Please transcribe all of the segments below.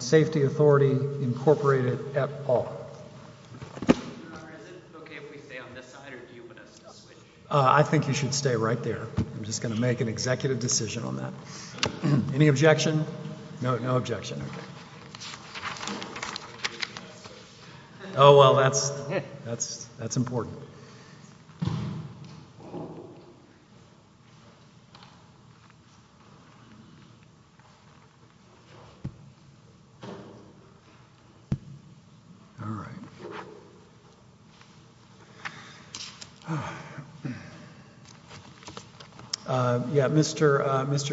Safety Authority Incorporated et al. I think you should stay right there. I'm just going to make an executive decision on that. Any objection? No objection. Oh well, that's important. All right. Yeah, Mr.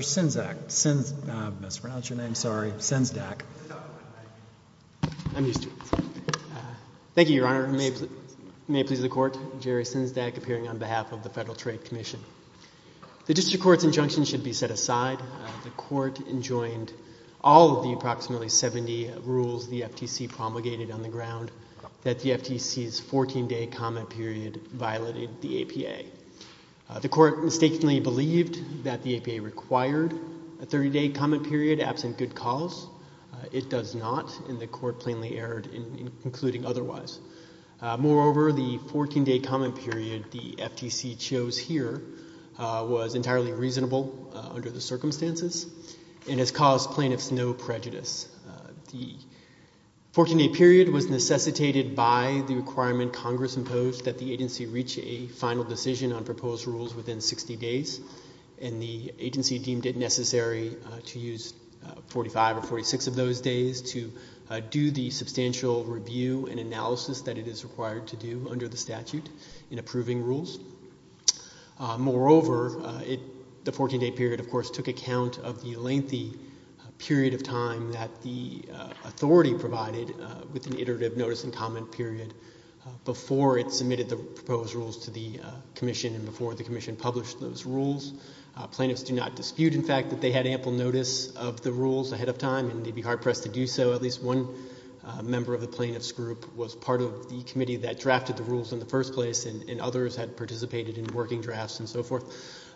Sinzak, Sinzak, I mispronounced your name, sorry, Sinzak. I'm used to it. Thank you, Your Honor. May it please the Court, Jerry Sinzak, appearing on behalf of the Federal Trade Commission. The District Court's injunction should be set aside. The Court enjoined all of the approximately 70 rules the FTC promulgated on the ground that the FTC's 14-day comment period violated the APA. The Court mistakenly believed that the APA required a 30-day comment period absent good cause. It does not, and the Court plainly erred in concluding otherwise. Moreover, the 14-day comment period the FTC chose here was entirely reasonable under the circumstances and has caused plaintiffs no prejudice. The 14-day period was necessitated by the requirement Congress imposed that the agency reach a final decision on proposed rules within 60 days, and the agency deemed it necessary to use 45 or 46 of those days to do the substantial review and analysis that it is required to do under the statute in approving rules. Moreover, the 14-day period, of course, took account of the lengthy period of time that the authority provided with an iterative notice and comment period before it submitted the proposed rules to the Commission and before the Commission published those rules. Plaintiffs do not dispute, in fact, that they had ample notice of the rules ahead of time and they'd be hard-pressed to do so. At least one member of the plaintiffs' group was part of the committee that drafted the rules in the first place and others had participated in working drafts and so forth,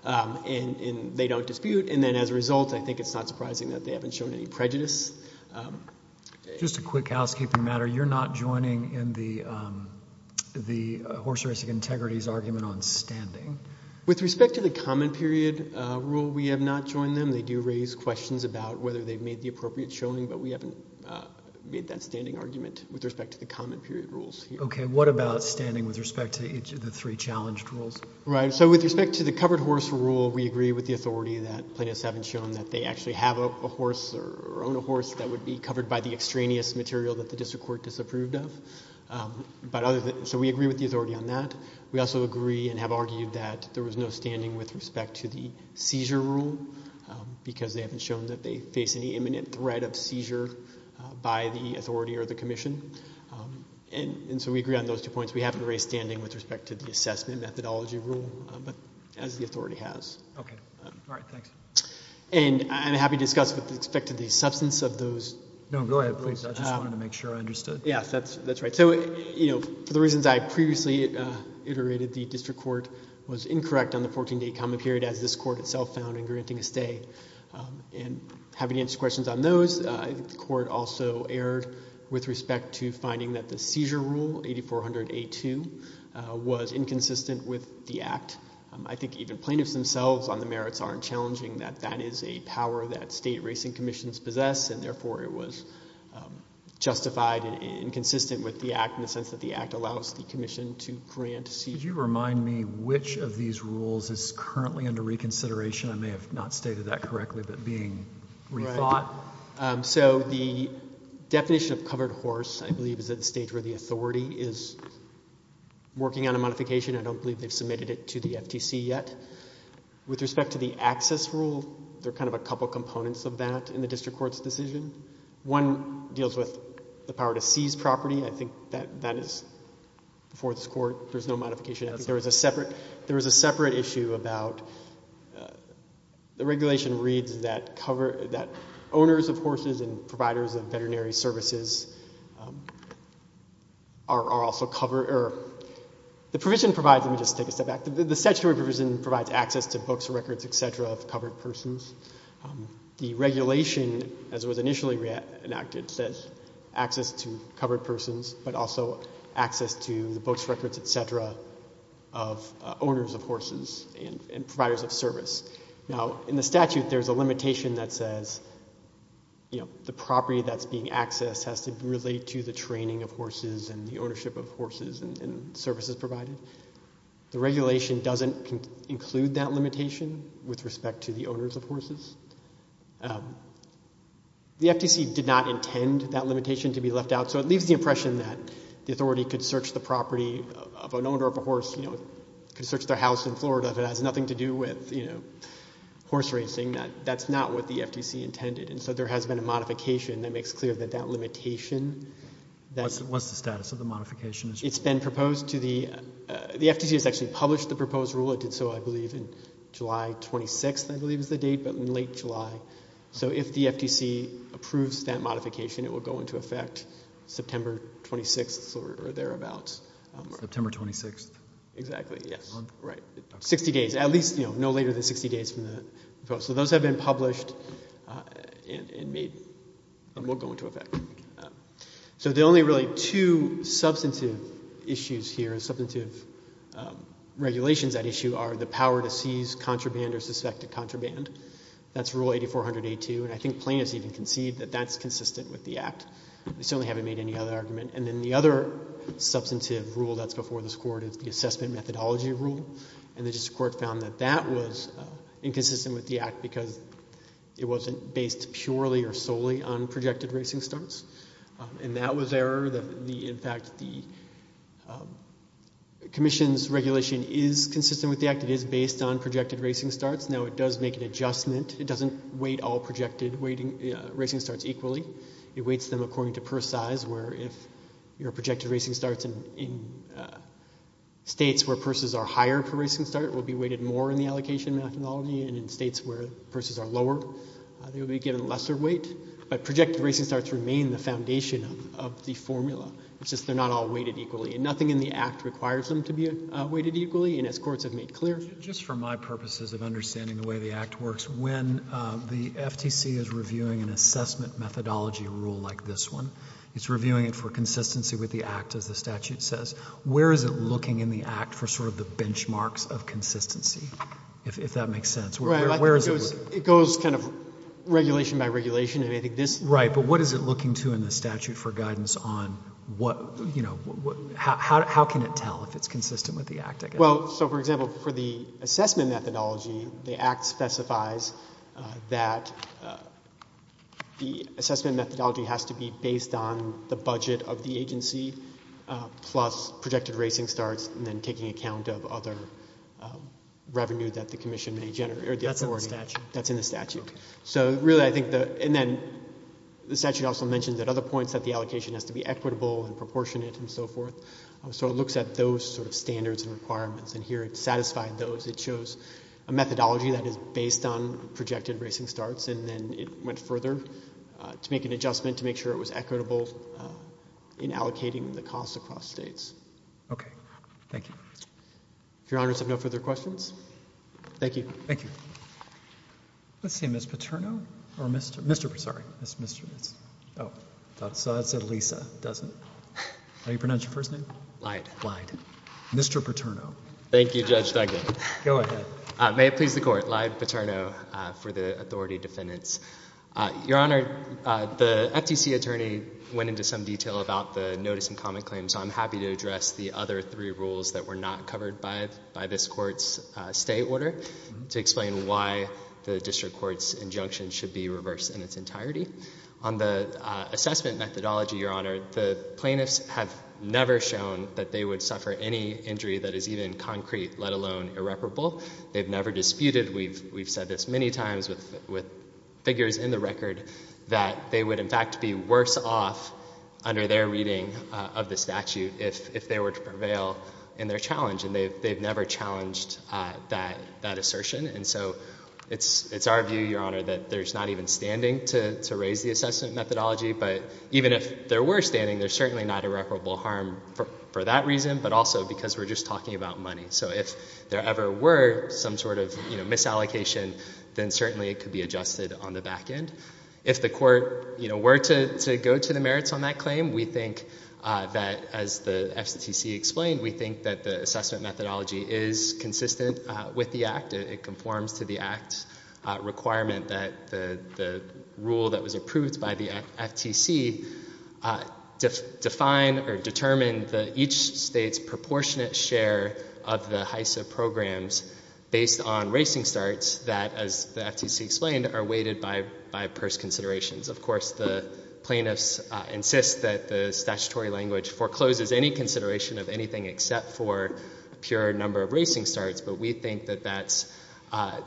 and they don't dispute. And then as a result, I think it's not surprising that they haven't shown any prejudice. Just a quick housekeeping matter. You're not joining in the horse-racing integrity's argument on standing. With respect to the comment period rule, we have not joined them. They do raise questions about whether they've made the appropriate showing, but we haven't made that standing argument with respect to the comment period rules. Okay. What about standing with respect to each of the three challenged rules? Right. So with respect to the covered horse rule, we agree with the authority that plaintiffs haven't shown that they actually have a horse or own a horse that would be covered by the extraneous material that the district court disapproved of. So we agree with the authority on that. We also agree and have argued that there was no standing with respect to the seizure rule because they haven't shown that they face any imminent threat of seizure by the authority or the commission. And so we agree on those two points. We haven't raised standing with respect to the assessment methodology rule, but as the authority has. Okay. All right. Thanks. And I'm happy to discuss with respect to the substance of those. No, go ahead, please. I just wanted to make sure I understood. Yes, that's right. So, you know, for the reasons I previously iterated, the district court was incorrect on the 14-day common period as this court itself found in granting a stay. And having answered questions on those, I think the court also erred with respect to finding that the seizure rule, 8400A2, was inconsistent with the act. I think even plaintiffs themselves on the merits aren't challenging that that is a power that state racing commissions possess, and therefore it was justified and inconsistent with the act in the sense that the act allows the commission to grant seizure. Could you remind me which of these rules is currently under reconsideration? I may have not stated that correctly, but being rethought. Right. So the definition of covered horse, I believe, is at the stage where the authority is working on a modification. I don't believe they've submitted it to the FTC yet. With respect to the access rule, there are kind of a couple components of that in the district court's decision. One deals with the power to seize property. I think that is before this court. There's no modification. There was a separate issue about the regulation reads that owners of horses and providers of veterinary services are also covered. Let me just take a step back. The statutory provision provides access to books, records, et cetera, of covered persons. The regulation, as it was initially enacted, says access to covered persons, but also access to the books, records, et cetera, of owners of horses and providers of service. Now, in the statute, there's a limitation that says, you know, the property that's being accessed has to relate to the training of horses and the ownership of horses and services provided. The regulation doesn't include that limitation with respect to the owners of horses. The FTC did not intend that limitation to be left out, so it leaves the impression that the authority could search the property of an owner of a horse, you know, could search their house in Florida if it has nothing to do with, you know, horse racing. That's not what the FTC intended. And so there has been a modification that makes clear that that limitation that's- What's the status of the modification? It's been proposed to the-the FTC has actually published the proposed rule. It did so, I believe, in July 26th, I believe is the date, but in late July. So if the FTC approves that modification, it will go into effect September 26th or thereabouts. September 26th. Exactly, yes. Right. 60 days. At least, you know, no later than 60 days from the proposal. So those have been published and made-and will go into effect. So the only really two substantive issues here, substantive regulations at issue, are the power to seize contraband or suspect a contraband. That's Rule 8400A2, and I think plaintiffs even concede that that's consistent with the Act. They certainly haven't made any other argument. And then the other substantive rule that's before this Court is the assessment methodology rule, and the District Court found that that was inconsistent with the Act because it wasn't based purely or solely on projected racing starts. And that was error. In fact, the Commission's regulation is consistent with the Act. It is based on projected racing starts. Now, it does make an adjustment. It doesn't weight all projected racing starts equally. It weights them according to purse size, where if your projected racing starts in states where purses are higher per racing start will be weighted more in the allocation methodology, and in states where purses are lower they will be given lesser weight. But projected racing starts remain the foundation of the formula. It's just they're not all weighted equally. And nothing in the Act requires them to be weighted equally, and as courts have made clear. Just for my purposes of understanding the way the Act works, when the FTC is reviewing an assessment methodology rule like this one, it's reviewing it for consistency with the Act, as the statute says. Where is it looking in the Act for sort of the benchmarks of consistency, if that makes sense? Where is it looking? It goes kind of regulation by regulation. Right, but what is it looking to in the statute for guidance on what, you know, how can it tell if it's consistent with the Act, I guess? Well, so, for example, for the assessment methodology, the Act specifies that the assessment methodology has to be based on the budget of the agency plus projected racing starts and then taking account of other revenue that the commission may generate. That's in the statute. That's in the statute. So, really, I think that, and then the statute also mentions that other points, that the allocation has to be equitable and proportionate and so forth. So it looks at those sort of standards and requirements, and here it's satisfied those. It shows a methodology that is based on projected racing starts, and then it went further to make an adjustment to make sure it was equitable in allocating the cost across states. Okay. Thank you. If Your Honors have no further questions. Thank you. Thank you. Let's see. Ms. Paterno? Or Mr. Paterno? Sorry. Oh, I thought it said Lisa. It doesn't. How do you pronounce your first name? Lyde. Lyde. Mr. Paterno. Thank you, Judge Duggan. Go ahead. May it please the Court. Lyde Paterno for the authority defendants. Your Honor, the FTC attorney went into some detail about the notice and comment claim, so I'm happy to address the other three rules that were not covered by this Court's stay order to explain why the district court's injunction should be reversed in its entirety. On the assessment methodology, Your Honor, the plaintiffs have never shown that they would suffer any injury that is even concrete, let alone irreparable. They've never disputed. We've said this many times with figures in the record that they would, in fact, be worse off under their reading of the statute if they were to prevail in their challenge, and they've never challenged that assertion. And so it's our view, Your Honor, that there's not even standing to raise the assessment methodology, but even if there were standing, there's certainly not irreparable harm for that reason, but also because we're just talking about money. So if there ever were some sort of misallocation, then certainly it could be adjusted on the back end. If the Court were to go to the merits on that claim, we think that, as the FTC explained, we think that the assessment methodology is consistent with the Act. It conforms to the Act requirement that the rule that was approved by the FTC define or determine each state's proportionate share of the HISA programs based on racing starts that, as the FTC explained, are weighted by purse considerations. Of course, the plaintiffs insist that the statutory language forecloses any consideration of anything except for a pure number of racing starts, but we think that that's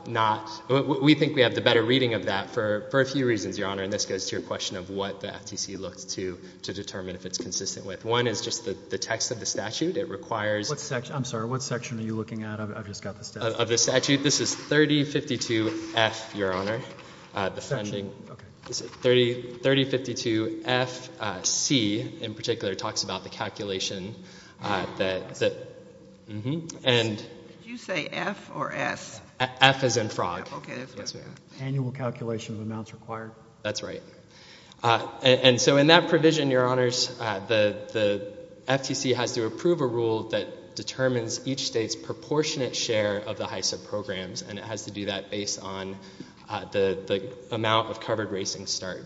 not – we think we have the better reading of that for a few reasons, Your Honor, and this goes to your question of what the FTC looks to determine if it's consistent with. One is just the text of the statute. It requires – What section – I'm sorry. What section are you looking at? I've just got the statute. Of the statute. This is 3052F, Your Honor. The funding – Section. Okay. 3052FC in particular talks about the calculation that – Did you say F or S? F as in frog. Okay. Annual calculation of amounts required. That's right. And so in that provision, Your Honors, the FTC has to approve a rule that determines each state's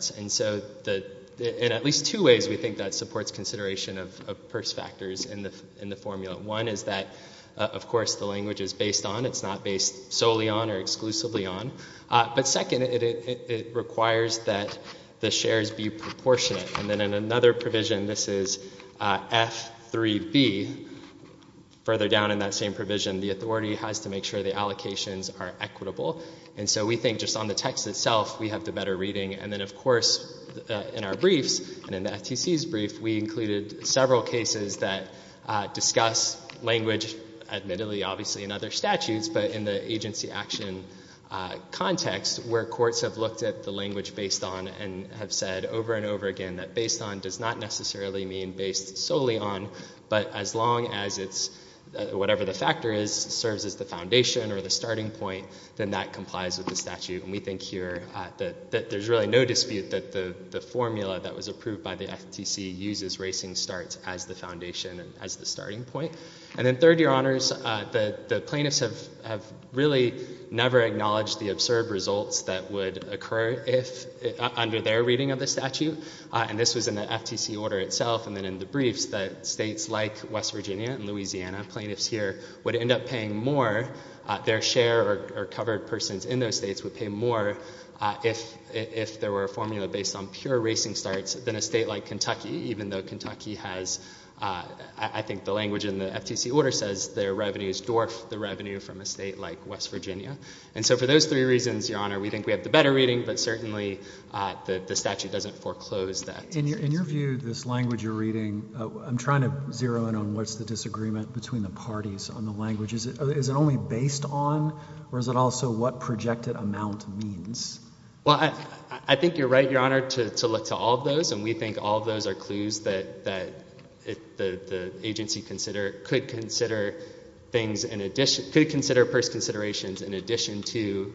And so in at least two ways we think that supports consideration of purse factors in the formula. One is that, of course, the language is based on. It's not based solely on or exclusively on. But second, it requires that the shares be proportionate. And then in another provision, this is F3B, further down in that same provision, the authority has to make sure the allocations are equitable. And so we think just on the text itself, we have the better reading. And then, of course, in our briefs and in the FTC's brief, we included several cases that discuss language, admittedly, obviously, in other statutes, but in the agency action context where courts have looked at the language based on and have said over and over again that based on does not necessarily mean based solely on, but as long as it's – or the starting point, then that complies with the statute. And we think here that there's really no dispute that the formula that was approved by the FTC uses racing starts as the foundation and as the starting point. And then third, Your Honors, the plaintiffs have really never acknowledged the absurd results that would occur under their reading of the statute. And this was in the FTC order itself. And then in the briefs, the states like West Virginia and Louisiana, the plaintiffs here, would end up paying more, their share or covered persons in those states would pay more if there were a formula based on pure racing starts than a state like Kentucky, even though Kentucky has – I think the language in the FTC order says their revenues dwarf the revenue from a state like West Virginia. And so for those three reasons, Your Honor, we think we have the better reading, but certainly the statute doesn't foreclose that. In your view, this language you're reading, I'm trying to zero in on what's the disagreement between the parties on the language. Is it only based on or is it also what projected amount means? Well, I think you're right, Your Honor, to look to all of those, and we think all of those are clues that the agency could consider things in addition – could consider purse considerations in addition to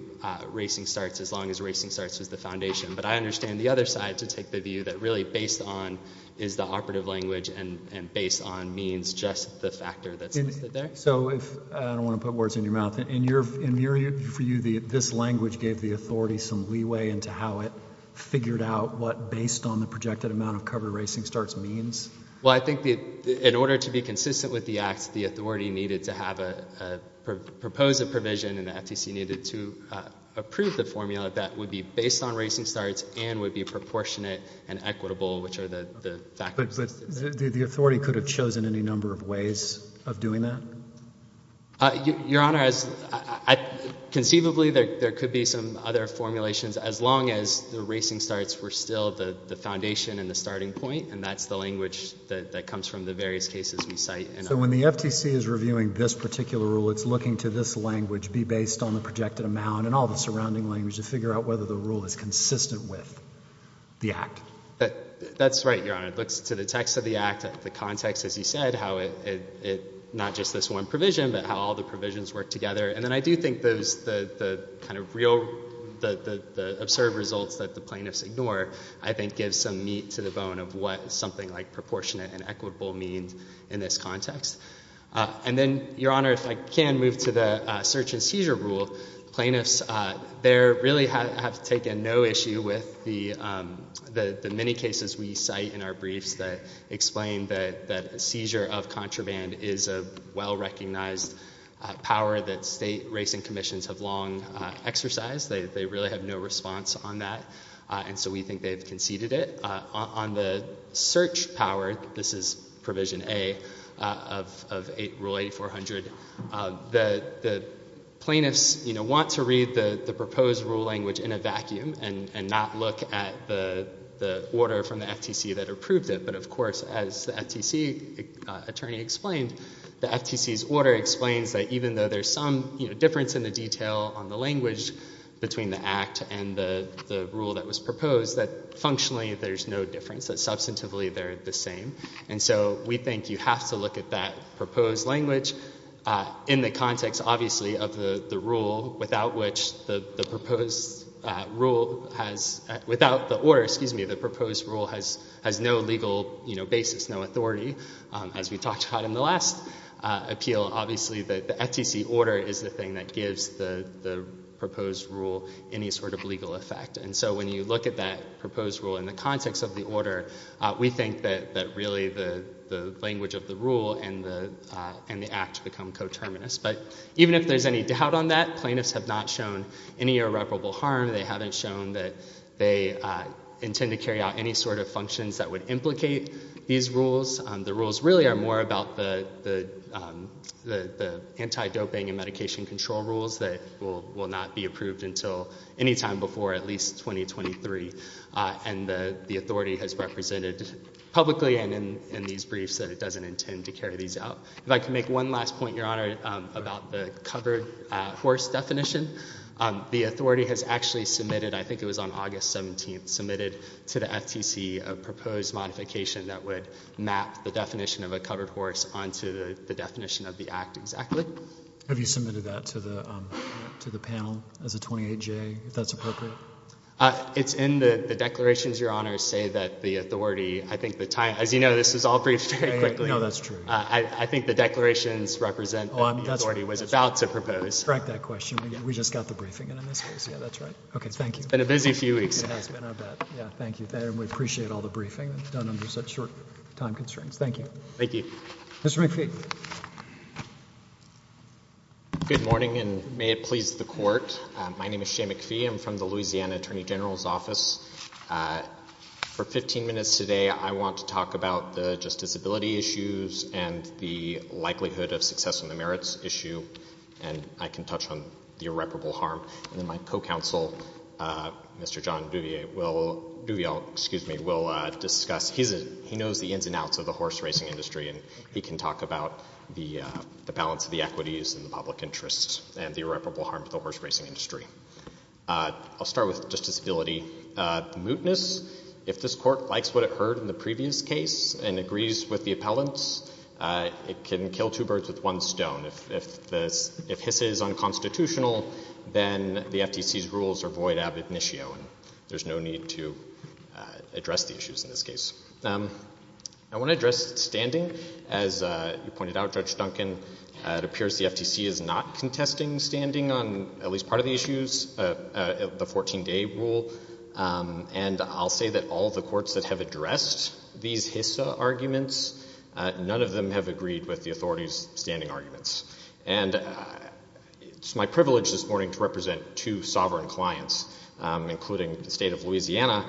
racing starts as long as racing starts is the foundation. But I understand the other side to take the view that really based on is the operative language and based on means just the factor that's listed there. So if – I don't want to put words in your mouth. In your view, this language gave the authority some leeway into how it figured out what based on the projected amount of covered racing starts means? Well, I think in order to be consistent with the acts, the authority needed to propose a provision and the FTC needed to approve the formula that would be based on racing starts and would be proportionate and equitable, which are the factors listed there. But the authority could have chosen any number of ways of doing that? Your Honor, conceivably there could be some other formulations as long as the racing starts were still the foundation and the starting point, and that's the language that comes from the various cases we cite. So when the FTC is reviewing this particular rule, it's looking to this language be based on the projected amount and all the surrounding language to figure out whether the rule is consistent with the act. That's right, Your Honor. It looks to the text of the act, the context, as you said, how it not just this one provision but how all the provisions work together. And then I do think the kind of real – the absurd results that the plaintiffs ignore, I think gives some meat to the bone of what something like proportionate and equitable means in this context. And then, Your Honor, if I can move to the search and seizure rule. Plaintiffs there really have taken no issue with the many cases we cite in our briefs that explain that a seizure of contraband is a well-recognized power that state racing commissions have long exercised. They really have no response on that, and so we think they've conceded it. On the search power, this is provision A of Rule 8400, the plaintiffs want to read the proposed rule language in a vacuum and not look at the order from the FTC that approved it. But, of course, as the FTC attorney explained, the FTC's order explains that even though there's some difference in the detail on the language between the act and the rule that was proposed, that functionally there's no difference, that substantively they're the same. And so we think you have to look at that proposed language in the context, obviously, of the rule, without which the proposed rule has – without the order, excuse me, the proposed rule has no legal basis, no authority. As we talked about in the last appeal, obviously the FTC order is the thing that gives the proposed rule any sort of legal effect. And so when you look at that proposed rule in the context of the order, we think that really the language of the rule and the act become coterminous. But even if there's any doubt on that, plaintiffs have not shown any irreparable harm. They haven't shown that they intend to carry out any sort of functions that would implicate these rules. The rules really are more about the anti-doping and medication control rules that will not be approved until any time before at least 2023. And the authority has represented publicly and in these briefs that it doesn't intend to carry these out. If I could make one last point, Your Honor, about the covered horse definition. The authority has actually submitted, I think it was on August 17th, submitted to the FTC a proposed modification that would map the definition of a covered horse onto the definition of the act exactly. Have you submitted that to the panel as a 28-J, if that's appropriate? It's in the declarations, Your Honor, say that the authority, I think the time, as you know, this was all briefed very quickly. No, that's true. I think the declarations represent that the authority was about to propose. Correct that question. We just got the briefing in this case. Yeah, that's right. Okay, thank you. It's been a busy few weeks. It has been, I'll bet. Yeah, thank you. And we appreciate all the briefing done under such short time constraints. Thank you. Thank you. Mr. McPhee. Good morning, and may it please the Court. My name is Shane McPhee. I'm from the Louisiana Attorney General's Office. For 15 minutes today, I want to talk about the justiciability issues and the likelihood of success on the merits issue, and I can touch on the irreparable harm. And then my co-counsel, Mr. John Duville, will discuss. He knows the ins and outs of the horse racing industry, and he can talk about the balance of the equities and the public interests and the irreparable harm to the horse racing industry. I'll start with justiciability. The mootness, if this Court likes what it heard in the previous case and agrees with the appellants, it can kill two birds with one stone. If HISA is unconstitutional, then the FTC's rules are void ab initio, and there's no need to address the issues in this case. I want to address standing. As you pointed out, Judge Duncan, it appears the FTC is not contesting standing on at least part of the issues, the 14-day rule, and I'll say that all the courts that have addressed these HISA arguments, none of them have agreed with the authorities' standing arguments. And it's my privilege this morning to represent two sovereign clients, including the State of Louisiana,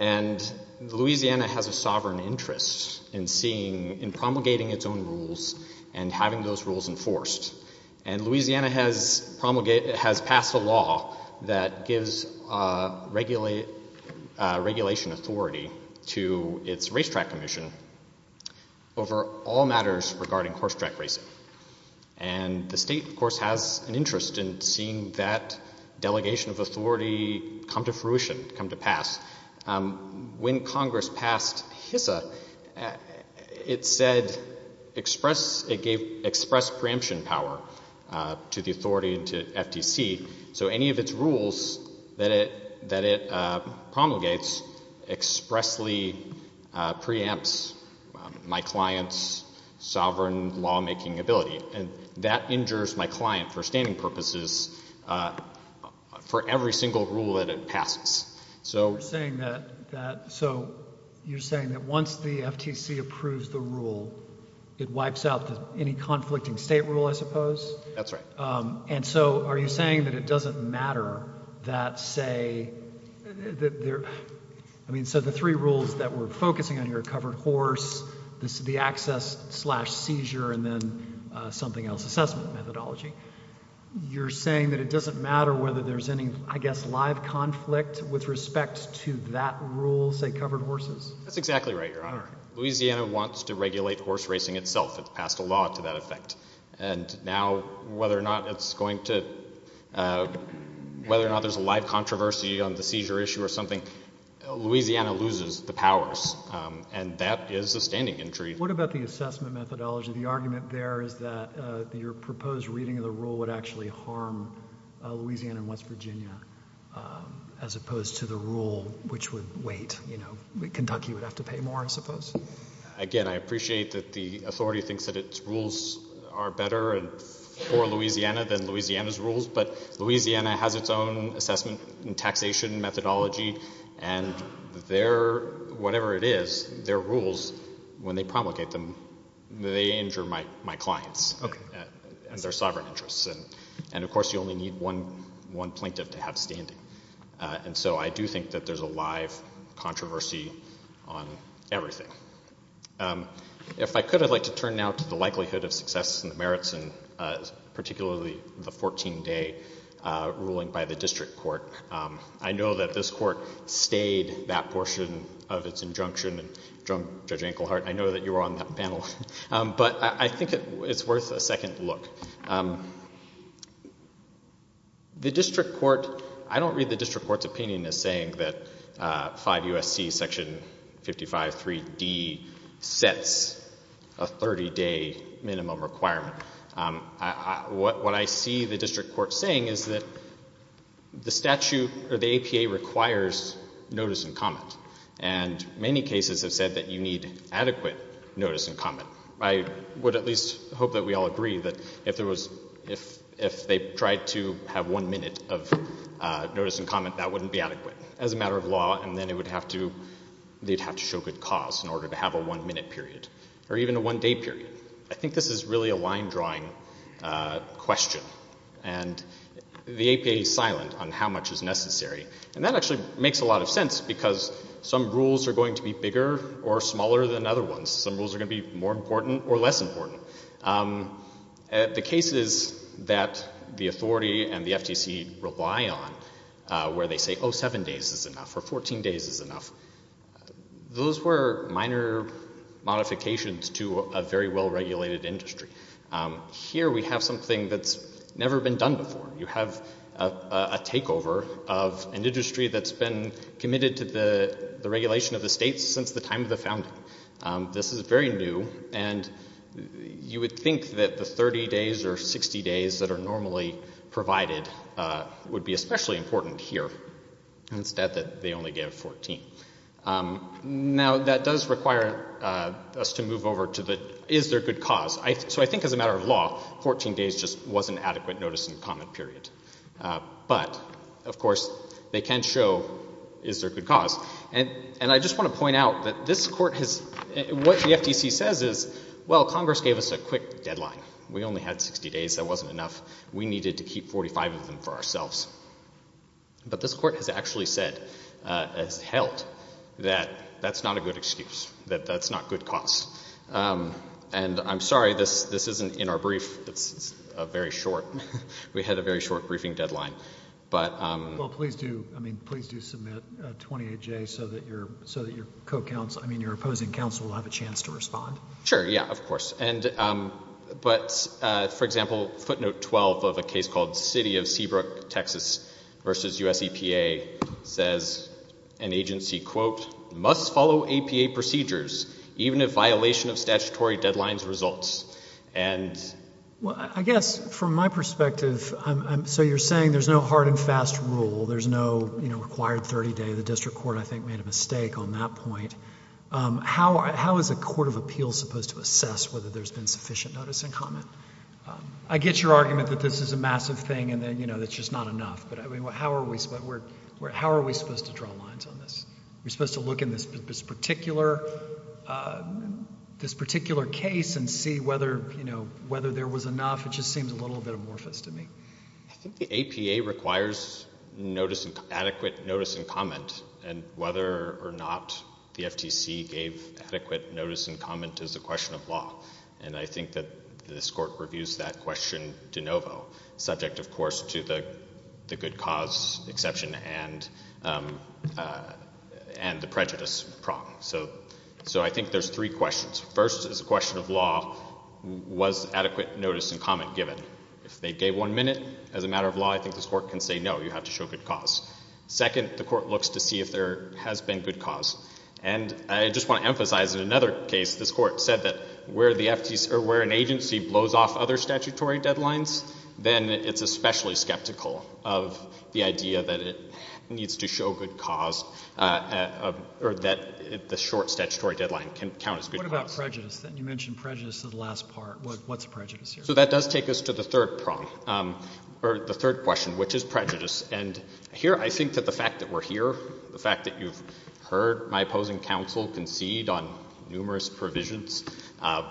and Louisiana has a sovereign interest in promulgating its own rules and having those rules enforced. And Louisiana has passed a law that gives regulation authority to its racetrack commission over all matters regarding horse track racing. And the state, of course, has an interest in seeing that delegation of authority come to fruition, come to pass. When Congress passed HISA, it said it gave express preemption power to the authority and to FTC, so any of its rules that it promulgates expressly preempts my client's sovereign lawmaking ability. And that injures my client for standing purposes for every single rule that it passes. So you're saying that once the FTC approves the rule, it wipes out any conflicting state rule, I suppose? That's right. And so are you saying that it doesn't matter that, say, I mean, so the three rules that we're focusing on here, covered horse, the access slash seizure, and then something else, assessment methodology, you're saying that it doesn't matter whether there's any, I guess, live conflict with respect to that rule, say covered horses? That's exactly right, Your Honor. Louisiana wants to regulate horse racing itself. It's passed a law to that effect. And now, whether or not it's going to, whether or not there's a live controversy on the seizure issue or something, Louisiana loses the powers, and that is a standing entry. What about the assessment methodology? The argument there is that your proposed reading of the rule would actually harm Louisiana and West Virginia, as opposed to the rule which would wait, you know, Kentucky would have to pay more, I suppose? Again, I appreciate that the authority thinks that its rules are better for Louisiana than Louisiana's rules, but Louisiana has its own assessment and taxation methodology, and their, whatever it is, their rules, when they promulgate them, they injure my clients and their sovereign interests. And, of course, you only need one plaintiff to have standing. And so I do think that there's a live controversy on everything. If I could, I'd like to turn now to the likelihood of success in the merits, and particularly the 14-day ruling by the district court. I know that this court stayed that portion of its injunction, and Judge Enkelhardt, I know that you were on that panel, but I think it's worth a second look. The district court, I don't read the district court's opinion as saying that 5 U.S.C. section 553D sets a 30-day minimum requirement. What I see the district court saying is that the statute, or the APA, requires notice and comment. And many cases have said that you need adequate notice and comment. I would at least hope that we all agree that if there was, if they tried to have one minute of notice and comment, that wouldn't be adequate as a matter of law, and then it would have to, they'd have to show good cause in order to have a one-minute period, or even a one-day period. I think this is really a line-drawing question, and the APA is silent on how much is necessary. And that actually makes a lot of sense, because some rules are going to be bigger or smaller than other ones. Some rules are going to be more important or less important. The cases that the authority and the FTC rely on, where they say, oh, 7 days is enough, or 14 days is enough, those were minor modifications to a very well-regulated industry. Here we have something that's never been done before. You have a takeover of an industry that's been committed to the regulation of the states since the time of the founding. This is very new, and you would think that the 30 days or 60 days that are normally provided would be especially important here. It's sad that they only gave 14. Now, that does require us to move over to the, is there good cause? So I think as a matter of law, 14 days just wasn't adequate notice and comment period. But, of course, they can show, is there a good cause? And I just want to point out that this court has, what the FTC says is, well, Congress gave us a quick deadline. We only had 60 days. That wasn't enough. We needed to keep 45 of them for ourselves. But this court has actually said, has held, that that's not a good excuse, that that's not good cause. And I'm sorry, this isn't in our brief. It's a very short, we had a very short briefing deadline. But. Well, please do, I mean, please do submit a 28-J so that your co-counsel, I mean, your opposing counsel will have a chance to respond. Sure, yeah, of course. But, for example, footnote 12 of a case called City of Seabrook, Texas v. U.S. EPA says an agency, quote, must follow APA procedures even if violation of statutory deadlines results. And. Well, I guess from my perspective, so you're saying there's no hard and fast rule. There's no, you know, required 30 days. The district court, I think, made a mistake on that point. How is a court of appeals supposed to assess whether there's been sufficient notice and comment? I get your argument that this is a massive thing and that, you know, that's just not enough. But, I mean, how are we supposed, how are we supposed to draw lines on this? We're supposed to look in this particular case and see whether, you know, whether there was enough? It just seems a little bit amorphous to me. I think the APA requires adequate notice and comment and whether or not the FTC gave adequate notice and comment is a question of law. And I think that this court reviews that question de novo, subject, of course, to the good cause exception and the prejudice problem. So I think there's three questions. First is a question of law. Was adequate notice and comment given? If they gave one minute, as a matter of law, I think this court can say, no, you have to show good cause. Second, the court looks to see if there has been good cause. And I just want to emphasize in another case, this court said that where an agency blows off other statutory deadlines, then it's especially skeptical of the idea that it needs to show good cause or that the short statutory deadline can count as good cause. What about prejudice? You mentioned prejudice in the last part. What's prejudice here? So that does take us to the third prong, or the third question, which is prejudice. And here I think that the fact that we're here, the fact that you've heard my opposing counsel concede on numerous provisions,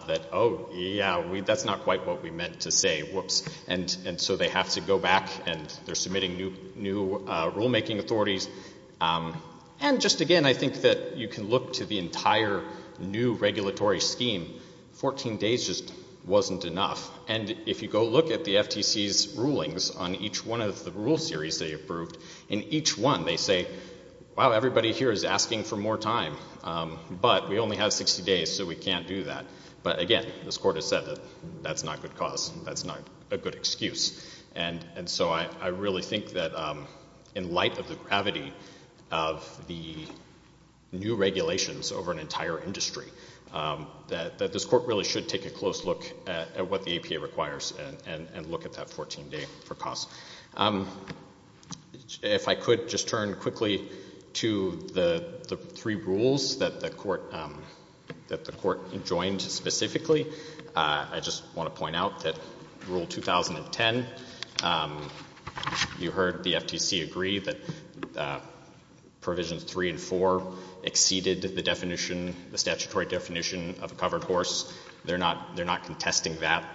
that, oh, yeah, that's not quite what we meant to say, whoops, and so they have to go back and they're submitting new rulemaking authorities. And just again, I think that you can look to the entire new regulatory scheme. 14 days just wasn't enough. And if you go look at the FTC's rulings on each one of the rule series they approved, in each one they say, wow, everybody here is asking for more time, but we only have 60 days so we can't do that. But, again, this court has said that that's not good cause. That's not a good excuse. And so I really think that in light of the gravity of the new regulations over an entire industry, that this court really should take a close look at what the APA requires and look at that 14-day for cause. If I could just turn quickly to the three rules that the court joined specifically. I just want to point out that Rule 2010, you heard the FTC agree that Provisions 3 and 4 exceeded the definition, the statutory definition of a covered horse. They're not contesting that.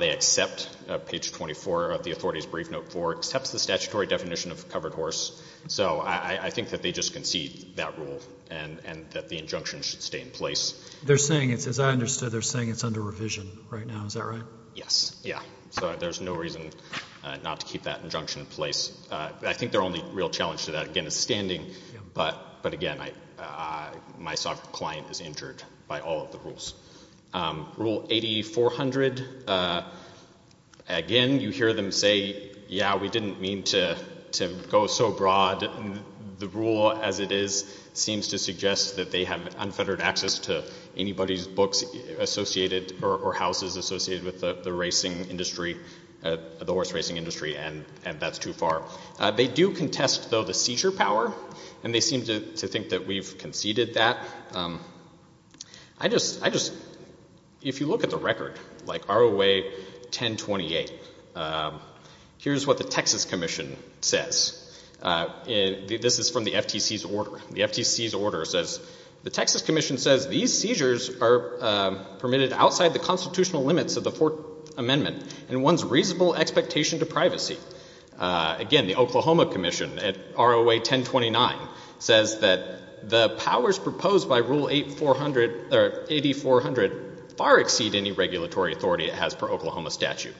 They accept Page 24 of the Authority's Brief Note 4, accepts the statutory definition of a covered horse. So I think that they just concede that rule and that the injunction should stay in place. They're saying, as I understood, they're saying it's under revision right now. Is that right? Yes. Yeah. So there's no reason not to keep that injunction in place. I think their only real challenge to that, again, is standing. But, again, my client is injured by all of the rules. Rule 8400, again, you hear them say, yeah, we didn't mean to go so broad. The rule as it is seems to suggest that they have unfettered access to anybody's books associated or houses associated with the horse racing industry, and that's too far. They do contest, though, the seizure power, and they seem to think that we've conceded that. If you look at the record, like ROA 1028, here's what the Texas Commission says. This is from the FTC's order. The Texas Commission says these seizures are permitted outside the constitutional limits of the Fourth Amendment and one's reasonable expectation to privacy. Again, the Oklahoma Commission at ROA 1029 says that the powers proposed by Rule 8400 far exceed any regulatory authority it has per Oklahoma statute.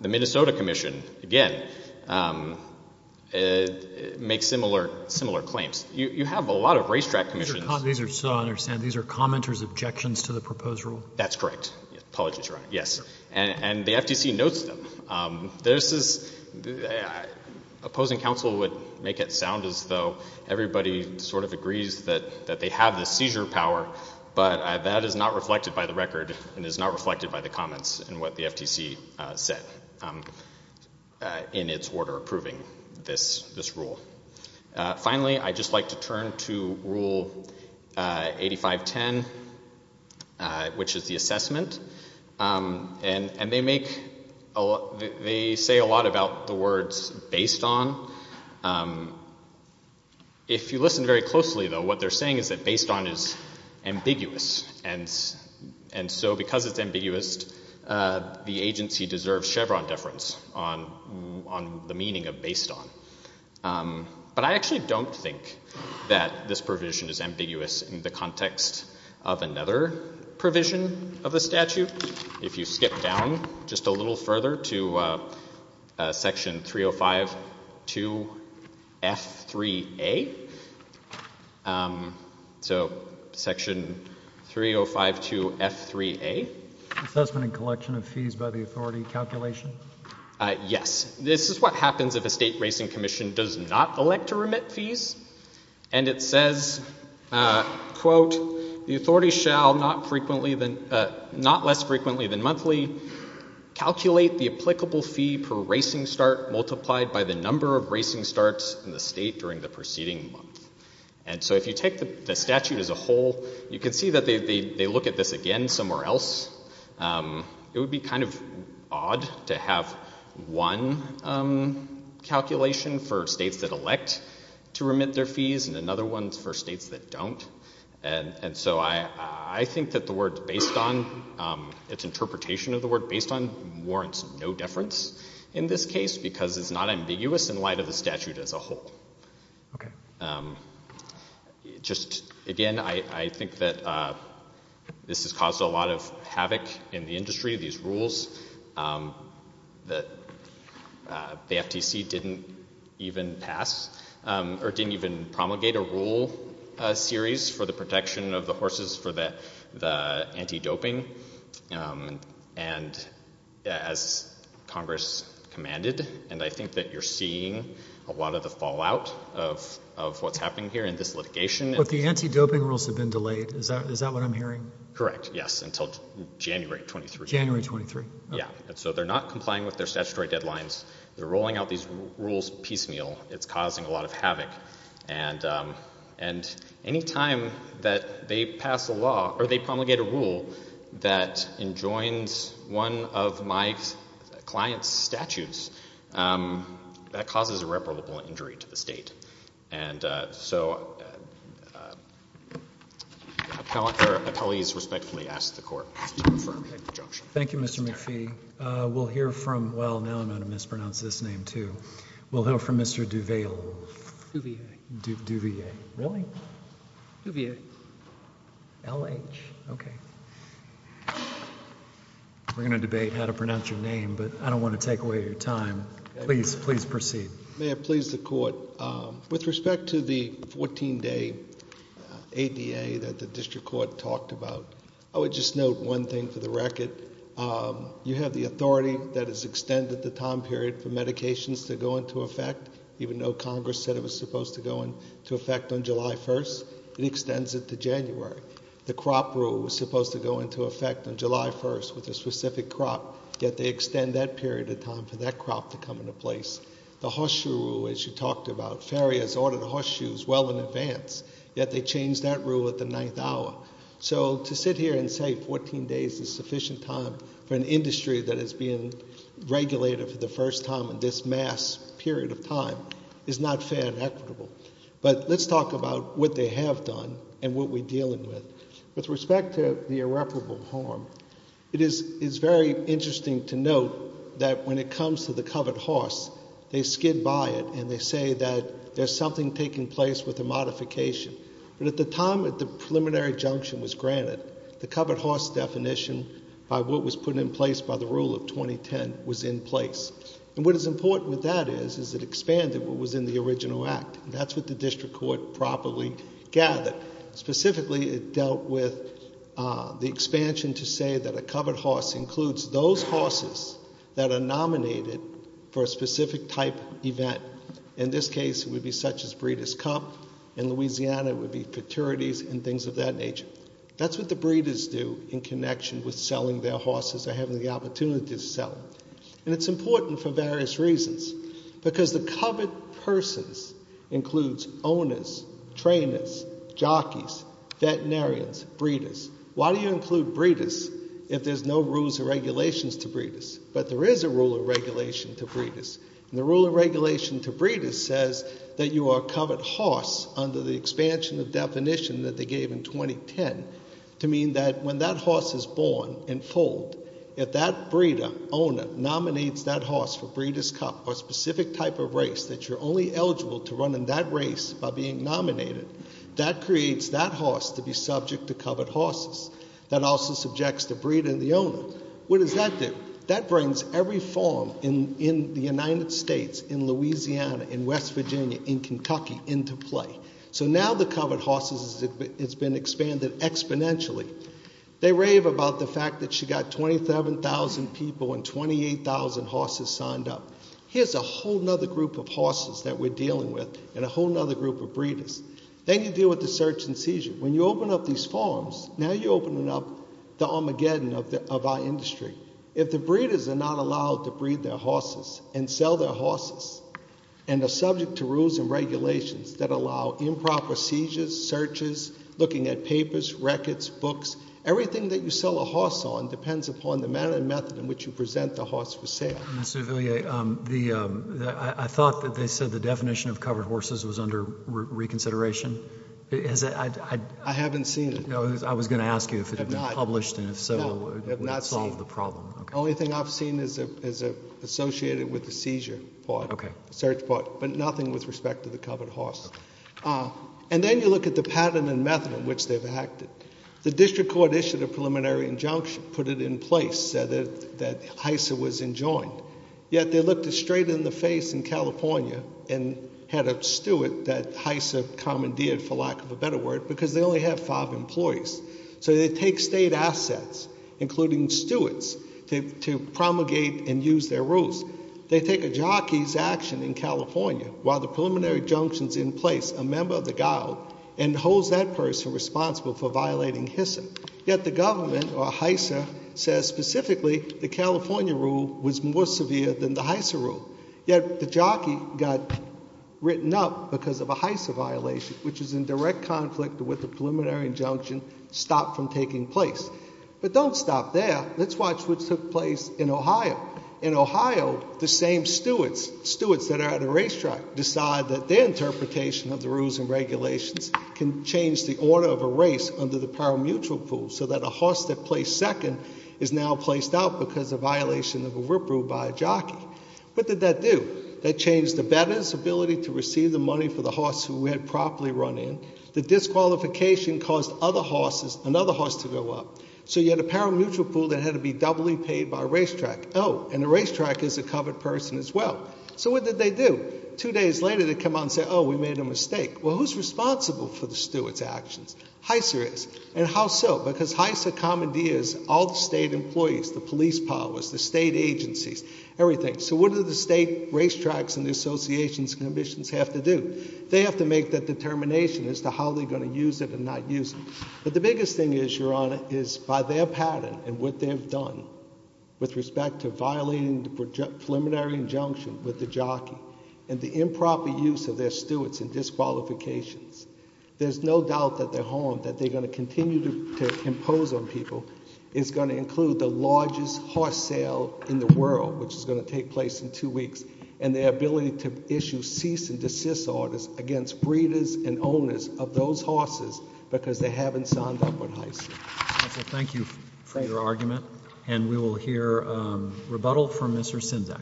The Minnesota Commission, again, makes similar claims. You have a lot of racetrack commissions. These are commenters' objections to the proposed rule? That's correct. Apologies, Your Honor. Yes. And the FTC notes them. Opposing counsel would make it sound as though everybody sort of agrees that they have the seizure power, but that is not reflected by the record and is not reflected by the comments in what the FTC said in its order approving this rule. Finally, I'd just like to turn to Rule 8510, which is the assessment, and they say a lot about the words based on. If you listen very closely, though, what they're saying is that based on is ambiguous, and so because it's ambiguous, the agency deserves Chevron deference on the meaning of based on. But I actually don't think that this provision is ambiguous in the context of another provision of the statute. If you skip down just a little further to Section 3052F3A. So Section 3052F3A. Assessment and collection of fees by the authority calculation? Yes. This is what happens if a state racing commission does not elect to remit fees, and it says, quote, the authority shall not less frequently than monthly calculate the applicable fee per racing start multiplied by the number of racing starts in the state during the preceding month. And so if you take the statute as a whole, you can see that they look at this again somewhere else. It would be kind of odd to have one calculation for states that elect to remit their fees and another one for states that don't. And so I think that the word based on, its interpretation of the word based on, warrants no deference in this case because it's not ambiguous in light of the statute as a whole. Okay. Just, again, I think that this has caused a lot of havoc in the industry. These rules that the FTC didn't even pass, or didn't even promulgate a rule series for the protection of the horses for the anti-doping. And as Congress commanded, and I think that you're seeing a lot of the fallout of what's happening here in this litigation. But the anti-doping rules have been delayed. Is that what I'm hearing? Correct. Yes. Until January 23. January 23. Yeah. So they're not complying with their statutory deadlines. They're rolling out these rules piecemeal. It's causing a lot of havoc. And any time that they pass a law, or they promulgate a rule that enjoins one of my client's statutes, that causes irreparable injury to the state. And so appellees respectfully ask the court to confirm the injunction. Thank you, Mr. McPhee. We'll hear from, well, now I'm going to mispronounce this name too. We'll hear from Mr. Duval. Duval. Duval. Really? Duval. L-H. Okay. We're going to debate how to pronounce your name, but I don't want to take away your time. Please proceed. May I please the court? With respect to the 14-day ADA that the district court talked about, I would just note one thing for the record. You have the authority that is extended the time period for medications to go into effect, even though Congress said it was supposed to go into effect on July 1st. It extends it to January. The crop rule was supposed to go into effect on July 1st with a specific crop, yet they extend that period of time for that crop to come into place. The horseshoe rule, as you talked about, farriers ordered horseshoes well in advance, yet they changed that rule at the ninth hour. So to sit here and say 14 days is sufficient time for an industry that is being regulated for the first time in this mass period of time is not fair and equitable. But let's talk about what they have done and what we're dealing with. With respect to the irreparable harm, it is very interesting to note that when it comes to the covered horse, they skid by it and they say that there's something taking place with the modification. But at the time that the preliminary junction was granted, the covered horse definition by what was put in place by the rule of 2010 was in place. And what is important with that is it expanded what was in the original act. That's what the district court properly gathered. Specifically, it dealt with the expansion to say that a covered horse includes those horses that are nominated for a specific type event. In this case, it would be such as Breeders' Cup. In Louisiana, it would be fraternities and things of that nature. That's what the breeders do in connection with selling their horses or having the opportunity to sell them. And it's important for various reasons because the covered persons includes owners, trainers, jockeys, veterinarians, breeders. Why do you include breeders if there's no rules or regulations to breeders? But there is a rule of regulation to breeders. And the rule of regulation to breeders says that you are a covered horse under the expansion of definition that they gave in 2010 to mean that when that horse is born and foaled, if that breeder owner nominates that horse for Breeders' Cup or a specific type of race that you're only eligible to run in that race by being nominated, that creates that horse to be subject to covered horses. That also subjects the breeder and the owner. What does that do? That brings every farm in the United States, in Louisiana, in West Virginia, in Kentucky into play. So now the covered horses has been expanded exponentially. They rave about the fact that you've got 27,000 people and 28,000 horses signed up. Here's a whole other group of horses that we're dealing with and a whole other group of breeders. Then you deal with the search and seizure. When you open up these farms, now you're opening up the Armageddon of our industry. If the breeders are not allowed to breed their horses and sell their horses and are subject to rules and regulations that allow improper seizures, searches, looking at papers, records, books, everything that you sell a horse on depends upon the manner and method in which you present the horse for sale. Mr. Ouvillier, I thought that they said the definition of covered horses was under reconsideration. I haven't seen it. I was going to ask you if it had been published, and if so, would it solve the problem. The only thing I've seen is associated with the seizure part, the search part, but nothing with respect to the covered horse. And then you look at the pattern and method in which they've acted. The district court issued a preliminary injunction, put it in place, said that Hisa was enjoined. Yet they looked it straight in the face in California and had a steward that Hisa commandeered, for lack of a better word, because they only have five employees. So they take state assets, including stewards, to promulgate and use their rules. They take a jockey's action in California, while the preliminary injunction's in place, a member of the guard, and holds that person responsible for violating Hisa. Yet the government, or Hisa, says specifically the California rule was more severe than the Hisa rule. Yet the jockey got written up because of a Hisa violation, which is in direct conflict with the preliminary injunction stopped from taking place. But don't stop there. Let's watch what took place in Ohio. In Ohio, the same stewards, stewards that are at a racetrack, decide that their interpretation of the rules and regulations can change the order of a race under the parimutuel rule, so that a horse that placed second is now placed out because of violation of a rip rule by a jockey. What did that do? That changed the better's ability to receive the money for the horse who had properly run in. The disqualification caused another horse to go up. So you had a parimutuel rule that had to be doubly paid by racetrack. Oh, and the racetrack is a covered person as well. So what did they do? Two days later, they come out and say, oh, we made a mistake. Well, who's responsible for the steward's actions? Hisa is. And how so? Because Hisa commandeers all the state employees, the police powers, the state agencies, everything. So what do the state racetracks and the associations and commissions have to do? They have to make that determination as to how they're going to use it and not use it. But the biggest thing is, Your Honor, is by their pattern and what they've done, with respect to violating the preliminary injunction with the jockey, and the improper use of their stewards and disqualifications, there's no doubt that their harm that they're going to continue to impose on people is going to include the largest horse sale in the world, which is going to take place in two weeks, and their ability to issue cease and desist orders against breeders and owners of those horses because they haven't signed up on Hisa. Counsel, thank you for your argument. And we will hear rebuttal from Mr. Sinzak.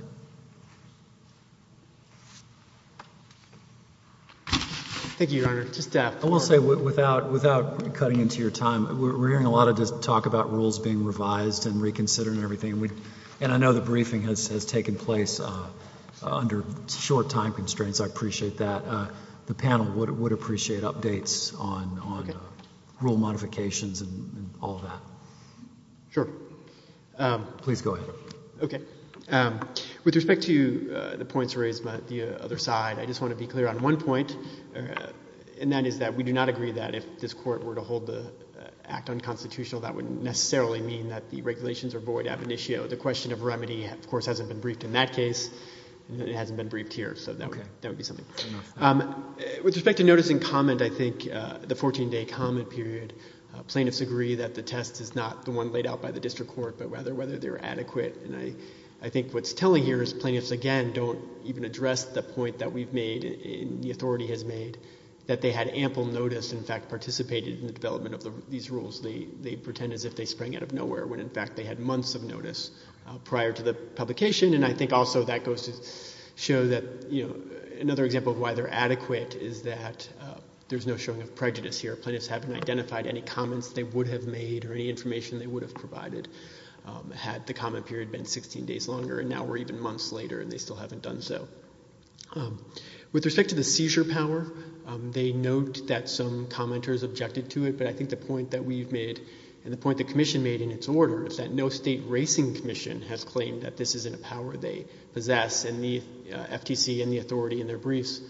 Thank you, Your Honor. I will say, without cutting into your time, we're hearing a lot of talk about rules being revised and reconsidered and everything. And I know the briefing has taken place under short time constraints. I appreciate that. The panel would appreciate updates on rule modifications and all that. Sure. Please go ahead. Okay. With respect to the points raised by the other side, I just want to be clear on one point, and that is that we do not agree that if this court were to hold the act unconstitutional, that would necessarily mean that the regulations are void ab initio. The question of remedy, of course, hasn't been briefed in that case, and it hasn't been briefed here, so that would be something. With respect to notice and comment, I think the 14-day comment period, plaintiffs agree that the test is not the one laid out by the district court, but rather whether they're adequate. And I think what's telling here is plaintiffs, again, don't even address the point that we've made and the authority has made, that they had ample notice, in fact, participated in the development of these rules. They pretend as if they sprang out of nowhere, when in fact they had months of notice prior to the publication. And I think also that goes to show that another example of why they're adequate is that there's no showing of prejudice here. Plaintiffs haven't identified any comments they would have made or any information they would have provided had the comment period been 16 days longer, and now we're even months later and they still haven't done so. With respect to the seizure power, they note that some commenters objected to it, but I think the point that we've made and the point the commission made in its order is that no state racing commission has claimed that this isn't a power they possess, and the FTC and the authority in their briefs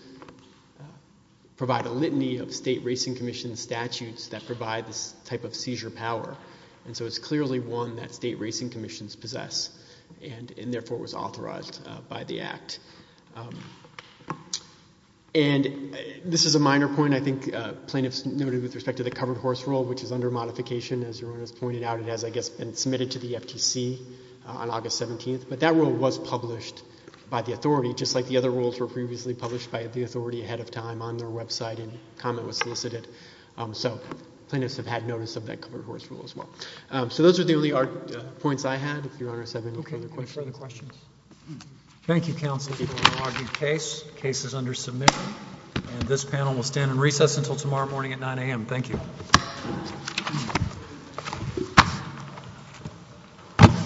provide a litany of state racing commission statutes that provide this type of seizure power. And so it's clearly one that state racing commissions possess and therefore was authorized by the Act. And this is a minor point. I think plaintiffs noted with respect to the covered horse rule, which is under modification, as Erona has pointed out. It has, I guess, been submitted to the FTC on August 17th. But that rule was published by the authority, just like the other rules were previously published by the authority ahead of time on their website and comment was solicited. So plaintiffs have had notice of that covered horse rule as well. So those are the only points I had. If Your Honor has any further questions. Okay. No further questions. Thank you, counsel. The case is under submission. And this panel will stand in recess until tomorrow morning at 9 a.m. Thank you.